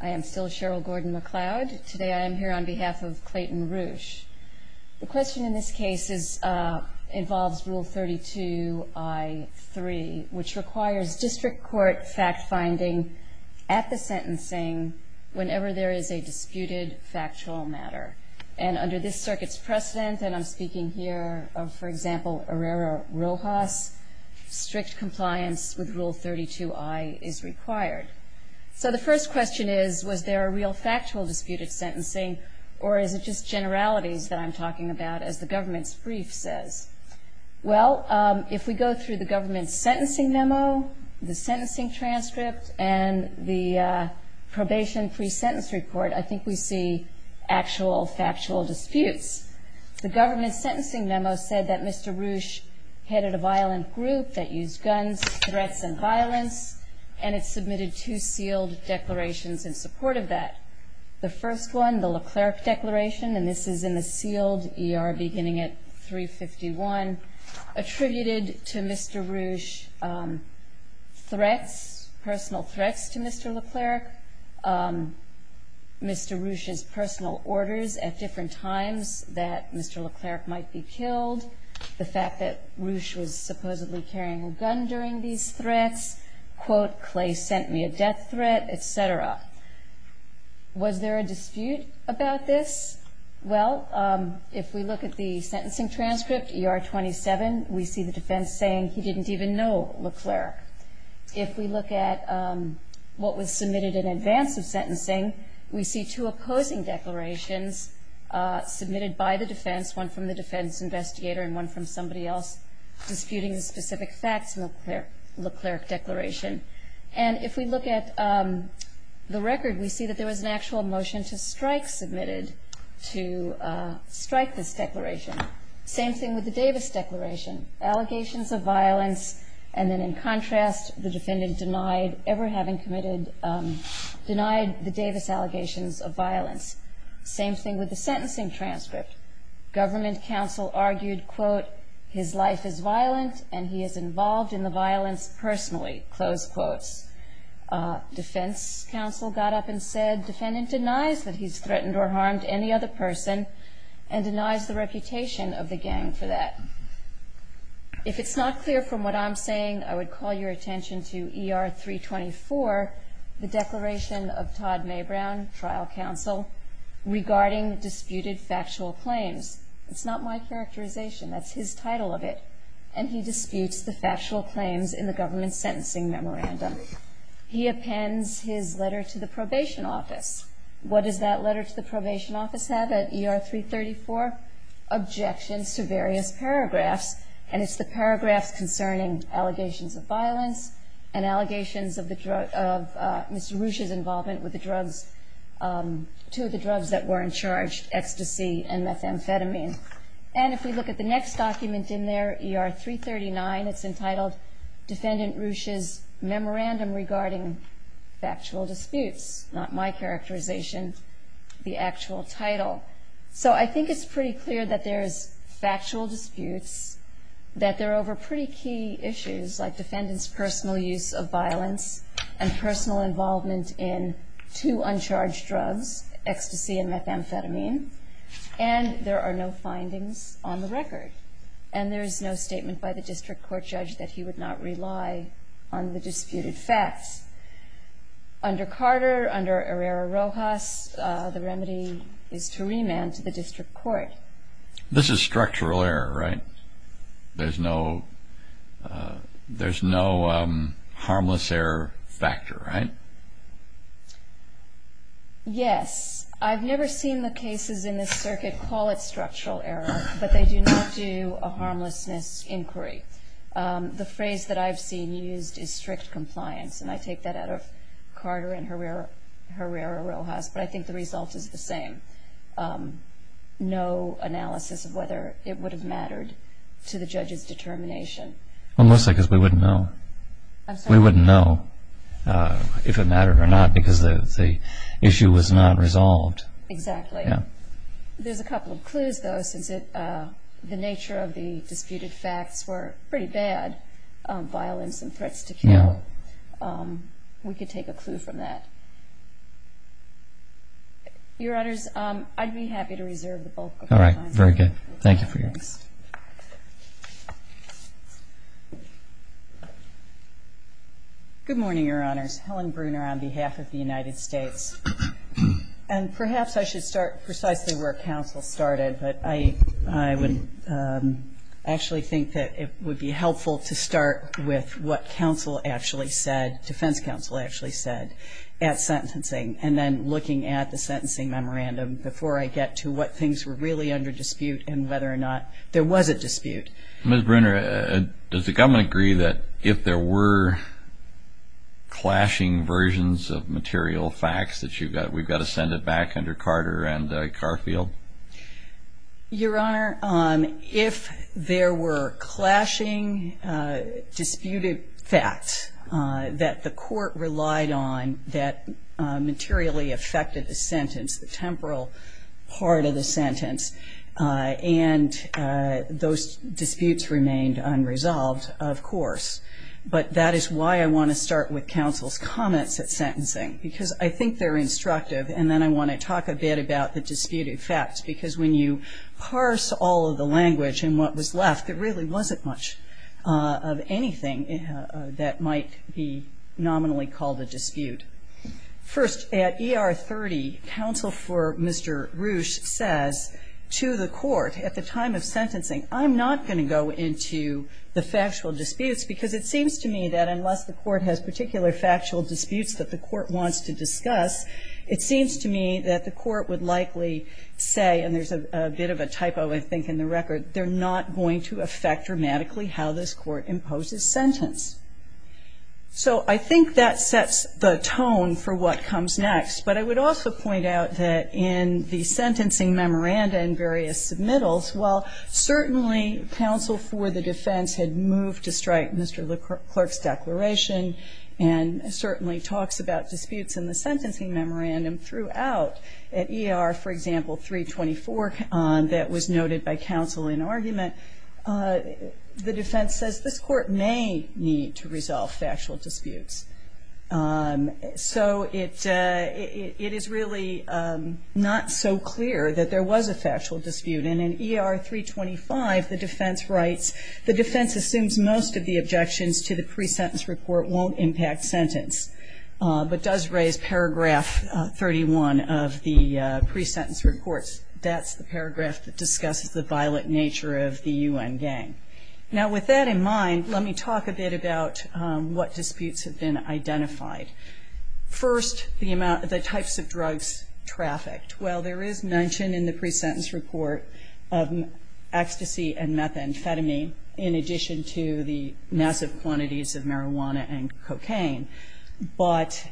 I am still Cheryl Gordon-McLeod. Today I am here on behalf of Clayton Roueche. The question in this case involves Rule 32-I-3, which requires district court fact-finding at the sentencing whenever there is a disputed factual matter. And under this circuit's precedent, and I'm speaking here of, for example, Herrera-Rojas, strict compliance with Rule 32-I is required. So the first question is, was there a real factual dispute at sentencing, or is it just generalities that I'm talking about, as the government's brief says? Well, if we go through the government's sentencing memo, the sentencing transcript, and the probation pre-sentence report, I think we see actual factual disputes. The government's sentencing memo said that Mr. Roueche headed a violent group that used guns, threats, and violence, and it submitted two sealed declarations in support of that. The first one, the LeClerc Declaration, and this is in the sealed ER beginning at 351, attributed to Mr. Roueche threats, personal threats to Mr. LeClerc, Mr. Roueche's personal orders at different times that Mr. LeClerc might be killed, the fact that Roueche was supposedly carrying a gun during these threats, quote, Clay sent me a death threat, et cetera. Was there a dispute about this? Well, if we look at the sentencing transcript, ER 27, we see the defense saying he didn't even know LeClerc. If we look at what was submitted in advance of sentencing, we see two opposing declarations submitted by the defense, one from the defense investigator and one from somebody else disputing the specific facts in the LeClerc Declaration. And if we look at the record, we see that there was an actual motion to strike submitted to strike this declaration. Same thing with the Davis Declaration, allegations of violence, and then in contrast, the defendant denied ever having committed, denied the Davis allegations of violence. Same thing with the sentencing transcript. Government counsel argued, quote, his life is violent and he is involved in the violence personally, close quotes. Defense counsel got up and said, defendant denies that he's threatened or harmed any other person and denies the reputation of the gang for that. If it's not clear from what I'm saying, I would call your attention to ER 324, the declaration of Todd Maybrown, trial counsel, regarding disputed factual claims. It's not my characterization. That's his title of it. And he disputes the factual claims in the government sentencing memorandum. He appends his letter to the probation office. What does that letter to the probation office have at ER 334? Objections to various paragraphs, and it's the paragraphs concerning allegations of violence and allegations of Ms. Rusch's involvement with the drugs, two of the drugs that were in charge, ecstasy and methamphetamine. And if we look at the next document in there, ER 339, it's entitled Defendant Rusch's Memorandum Regarding Factual Disputes. Not my characterization, the actual title. So I think it's pretty clear that there's factual disputes, that they're over pretty key issues like defendant's personal use of violence and personal involvement in two uncharged drugs, ecstasy and methamphetamine, and there are no findings on the record. And there is no statement by the district court judge that he would not rely on the disputed facts. Under Carter, under Herrera-Rojas, the remedy is to remand to the district court. This is structural error, right? There's no harmless error factor, right? Yes. I've never seen the cases in this circuit call it structural error, but they do not do a harmlessness inquiry. The phrase that I've seen used is strict compliance, and I take that out of Carter and Herrera-Rojas, but I think the result is the same. No analysis of whether it would have mattered to the judge's determination. Well, mostly because we wouldn't know. We wouldn't know if it mattered or not, because the issue was not resolved. Exactly. There's a couple of clues, though, since the nature of the disputed facts were pretty bad, violence and threats to kill. We could take a clue from that. Your Honors, I'd be happy to reserve the bulk of my time. Very good. Thank you for your interest. Good morning, Your Honors. Helen Bruner on behalf of the United States. And perhaps I should start precisely where counsel started, but I would actually think that it would be helpful to start with what counsel actually said, defense counsel actually said, at sentencing, and then looking at the sentencing memorandum before I get to what things were really under dispute and whether or not there was a dispute. Ms. Bruner, does the government agree that if there were clashing versions of material facts that you've got, we've got to send it back under Carter and Garfield? Your Honor, if there were clashing disputed facts that the court relied on that materially affected the sentence, the temporal part of the sentence, and those disputes remained unresolved, of course. But that is why I want to start with counsel's comments at sentencing, because I think they're instructive. And then I want to talk a bit about the disputed facts, because when you parse all of the language and what was left, there really wasn't much of anything that might be nominally called a dispute. First, at ER 30, counsel for Mr. Roosh says to the court at the time of sentencing, I'm not going to go into the factual disputes, because it seems to me that unless the court has particular factual disputes that the court wants to discuss, it seems to me that the court would likely say, and there's a bit of a typo, I think, in the record, they're not going to affect dramatically how this court imposes sentence. So I think that sets the tone for what comes next. But I would also point out that in the sentencing memoranda and various submittals, while certainly counsel for the defense had moved to strike Mr. LeClerc's declaration and certainly talks about disputes in the sentencing memorandum throughout, at ER, for example, 324, that was noted by counsel in argument, the defense says this court may need to resolve factual disputes. So it is really not so clear that there was a factual dispute. And in ER 325, the defense writes, the defense assumes most of the objections to the pre-sentence report won't impact sentence, but does raise paragraph 31 of the pre-sentence report. That's the paragraph that discusses the violent nature of the U.N. gang. Now, with that in mind, let me talk a bit about what disputes have been identified. First, the types of drugs trafficked. Well, there is mention in the pre-sentence report of ecstasy and methamphetamine, in addition to the massive quantities of marijuana and cocaine. But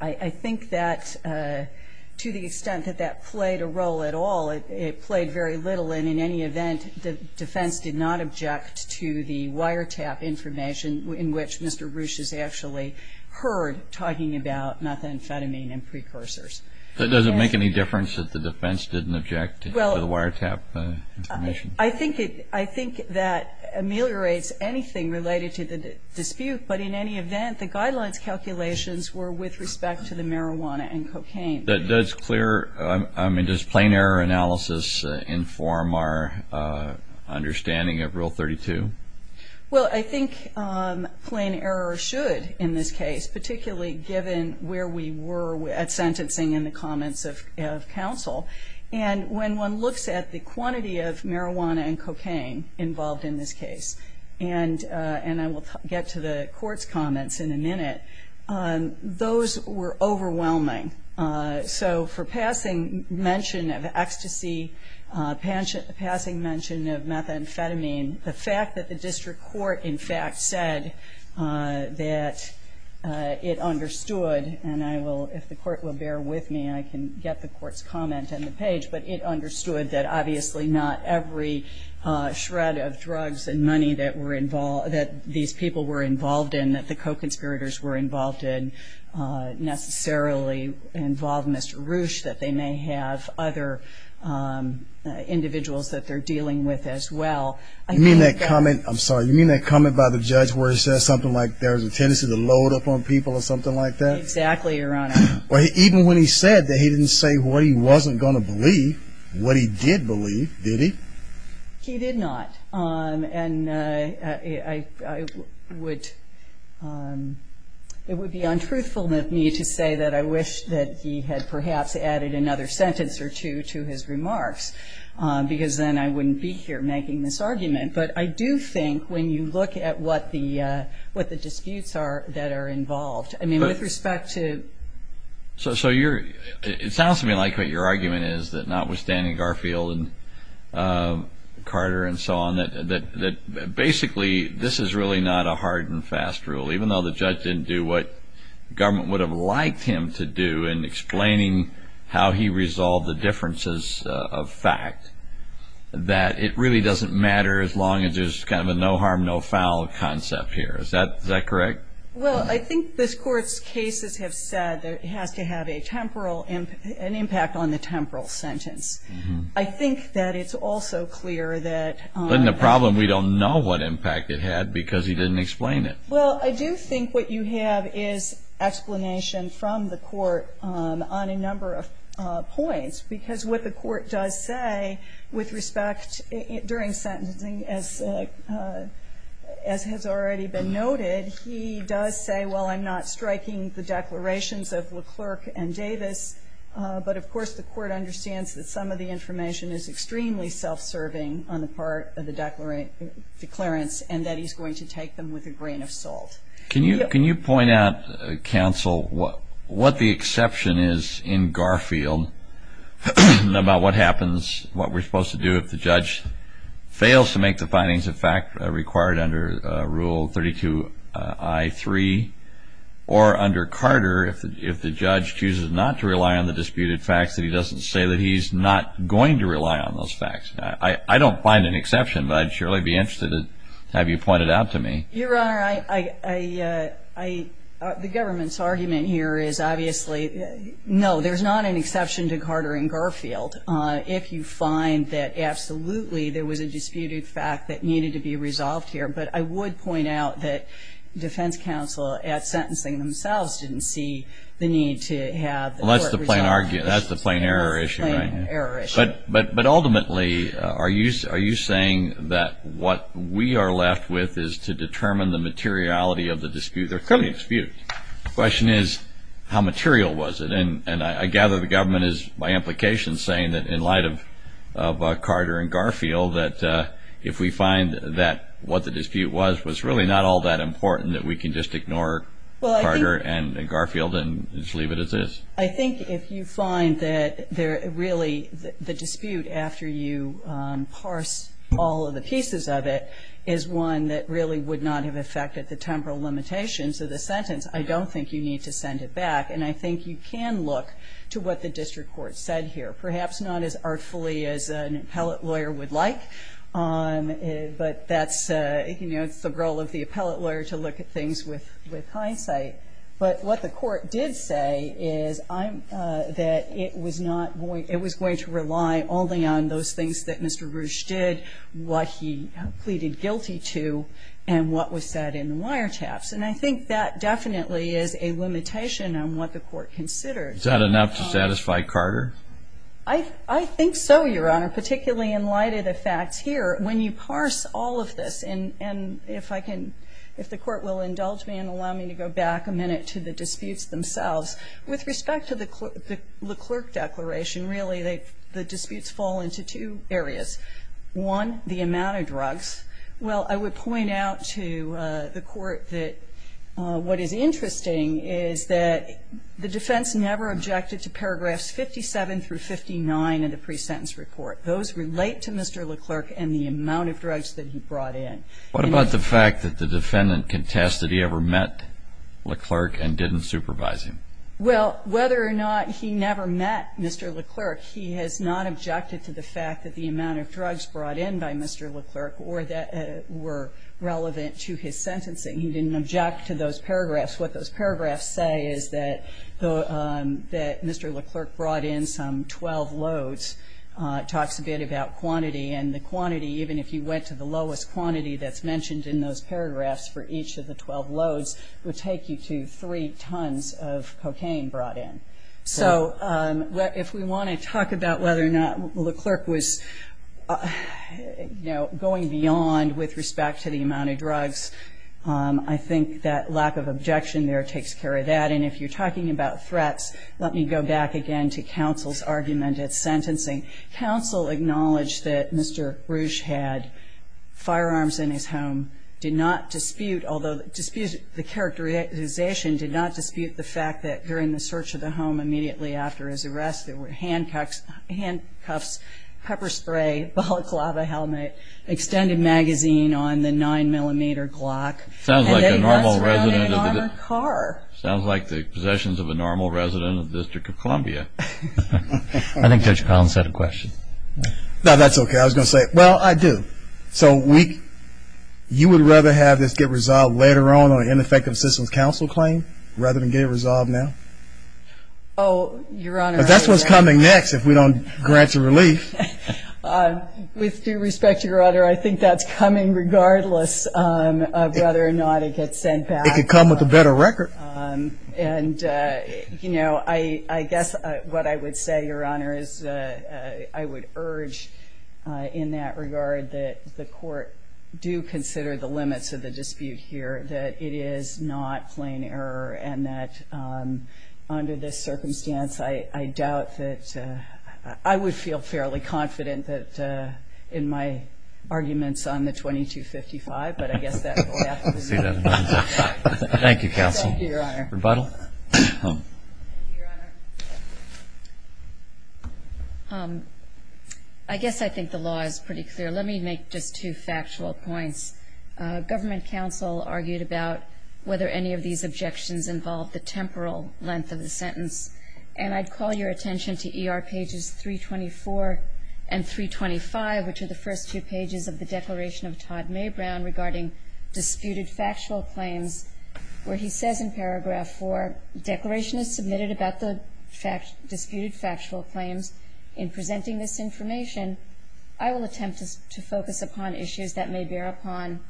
I think that to the extent that that played a role at all, it played very little. And in any event, the defense did not object to the wiretap information in which Mr. Bruce has actually heard talking about methamphetamine and precursors. But does it make any difference that the defense didn't object to the wiretap information? I think that ameliorates anything related to the dispute. But in any event, the guidelines calculations were with respect to the marijuana and cocaine. That's clear. I mean, does plain error analysis inform our understanding of Rule 32? Well, I think plain error should in this case, particularly given where we were at sentencing in the comments of counsel. And when one looks at the quantity of marijuana and cocaine involved in this case, and I will get to the court's comments in a minute, those were overwhelming. So for passing mention of ecstasy, passing mention of methamphetamine, the fact that the district court, in fact, said that it understood, and I will, if the court will bear with me, I can get the court's comment on the page, but it understood that obviously not every shred of drugs and money that were involved, that these people were involved in, that the co-conspirators were involved in, necessarily involved Mr. Roosh, that they may have other individuals that they're dealing with as well. You mean that comment, I'm sorry, you mean that comment by the judge where he says something like there's a tendency to load up on people or something like that? Exactly, Your Honor. Even when he said that he didn't say what he wasn't going to believe, what he did believe, did he? He did not. And I would, it would be untruthful of me to say that I wish that he had perhaps added another sentence or two to his remarks, because then I wouldn't be here making this argument. But I do think when you look at what the disputes are that are involved, I mean, with respect to... So you're, it sounds to me like what your argument is that notwithstanding Garfield and Carter and so on, that basically this is really not a hard and fast rule, even though the judge didn't do what government would have liked him to do in explaining how he resolved the differences of fact, that it really doesn't matter as long as there's kind of a no harm, no foul concept here. Is that correct? Well, I think this Court's cases have said that it has to have a temporal, an impact on the temporal sentence. I think that it's also clear that... But in the problem, we don't know what impact it had because he didn't explain it. Well, I do think what you have is explanation from the Court on a number of points, because what the Court does say with respect during sentencing, as has already been noted, he does say, well, I'm not striking the declarations of LeClerc and Davis. But, of course, the Court understands that some of the information is extremely self-serving on the part of the declarants and that he's going to take them with a grain of salt. Can you point out, counsel, what the exception is in Garfield about what happens, what we're supposed to do if the judge fails to make the findings of fact required under Rule 32-I-3? Or under Carter, if the judge chooses not to rely on the disputed facts, that he doesn't say that he's not going to rely on those facts? I don't find an exception, but I'd surely be interested to have you point it out to me. Your Honor, the government's argument here is, obviously, no, there's not an exception to Carter and Garfield if you find that, absolutely, there was a disputed fact that needed to be resolved here. But I would point out that defense counsel at sentencing themselves didn't see the need to have the Court resolve it. Well, that's the plain error issue, right? That's the plain error issue. But ultimately, are you saying that what we are left with is to determine the materiality of the dispute? The question is, how material was it? And I gather the government is, by implication, saying that in light of Carter and Garfield, that if we find that what the dispute was was really not all that important, that we can just ignore Carter and Garfield and just leave it as is. I think if you find that really the dispute, after you parse all of the pieces of it, is one that really would not have affected the temporal limitations of the sentence, I don't think you need to send it back. And I think you can look to what the district court said here. Perhaps not as artfully as an appellate lawyer would like, but that's, you know, it's the role of the appellate lawyer to look at things with hindsight. But what the court did say is that it was going to rely only on those things that Mr. Roosh did, what he pleaded guilty to, and what was said in the wiretaps. And I think that definitely is a limitation on what the court considered. Is that enough to satisfy Carter? I think so, Your Honor, particularly in light of the facts here. When you parse all of this, and if I can, if the court will indulge me and allow me to go back a minute to the disputes themselves, with respect to the LeClerc Declaration, really the disputes fall into two areas. One, the amount of drugs. Well, I would point out to the court that what is interesting is that the defense never objected to paragraphs 57 through 59 in the pre-sentence report. Those relate to Mr. LeClerc and the amount of drugs that he brought in. What about the fact that the defendant contested he ever met LeClerc and didn't supervise him? Well, whether or not he never met Mr. LeClerc, he has not objected to the fact that the amount of drugs brought in by Mr. LeClerc were relevant to his sentencing. He didn't object to those paragraphs. What those paragraphs say is that Mr. LeClerc brought in some 12 loads. It talks a bit about quantity, and the quantity, even if you went to the lowest quantity that's mentioned in those paragraphs for each of the 12 loads, would take you to three tons of cocaine brought in. So if we want to talk about whether or not LeClerc was going beyond with respect to the amount of drugs, I think that lack of objection there takes care of that. And if you're talking about threats, let me go back again to counsel's argument at sentencing. Counsel acknowledged that Mr. Roosh had firearms in his home, did not dispute, although the characterization did not dispute the fact that during the search of the home immediately after his arrest there were handcuffs, pepper spray, balaclava helmet, extended magazine on the 9mm Glock. Sounds like the possessions of a normal resident of the District of Columbia. I think Judge Collins had a question. No, that's okay. I was going to say, well, I do. So you would rather have this get resolved later on on an ineffective assistance counsel claim rather than get it resolved now? Oh, Your Honor. That's what's coming next if we don't grant you relief. With due respect, Your Honor, I think that's coming regardless of whether or not it gets sent back. It could come with a better record. And, you know, I guess what I would say, Your Honor, is I would urge in that regard that the Court do consider the limits of the dispute here, that it is not plain error and that under this circumstance I doubt that I would feel fairly confident that in my arguments on the 2255, but I guess that will have to be noted. Thank you, Your Honor. Rebuttal? Thank you, Your Honor. I guess I think the law is pretty clear. Let me make just two factual points. Government counsel argued about whether any of these objections involved the temporal length of the sentence. And I'd call your attention to ER pages 324 and 325, which are the first two pages of the Declaration of Todd Maybrown regarding disputed factual claims, where he says in paragraph 4, Declaration is submitted about the disputed factual claims. In presenting this information, I will attempt to focus upon issues that may bear upon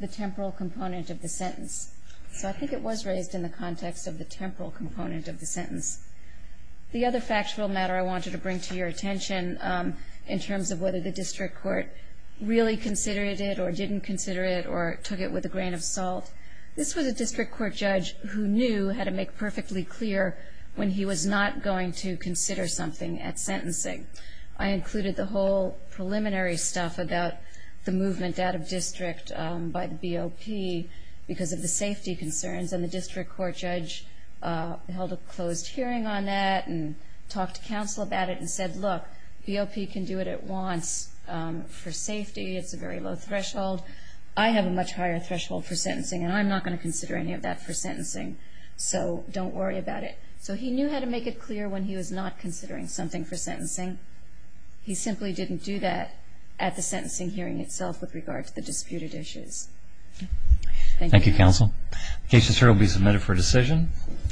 the temporal component of the sentence. So I think it was raised in the context of the temporal component of the sentence. The other factual matter I wanted to bring to your attention in terms of whether the district court really considered it or didn't consider it or took it with a grain of salt, this was a district court judge who knew how to make perfectly clear when he was not going to consider something at sentencing. I included the whole preliminary stuff about the movement out of district by the BOP because of the safety concerns. And the district court judge held a closed hearing on that and talked to counsel about it and said, look, BOP can do it at once for safety. It's a very low threshold. I have a much higher threshold for sentencing, and I'm not going to consider any of that for sentencing. So don't worry about it. So he knew how to make it clear when he was not considering something for sentencing. He simply didn't do that at the sentencing hearing itself with regard to the disputed issues. Thank you. Thank you, counsel. The case is here to be submitted for decision.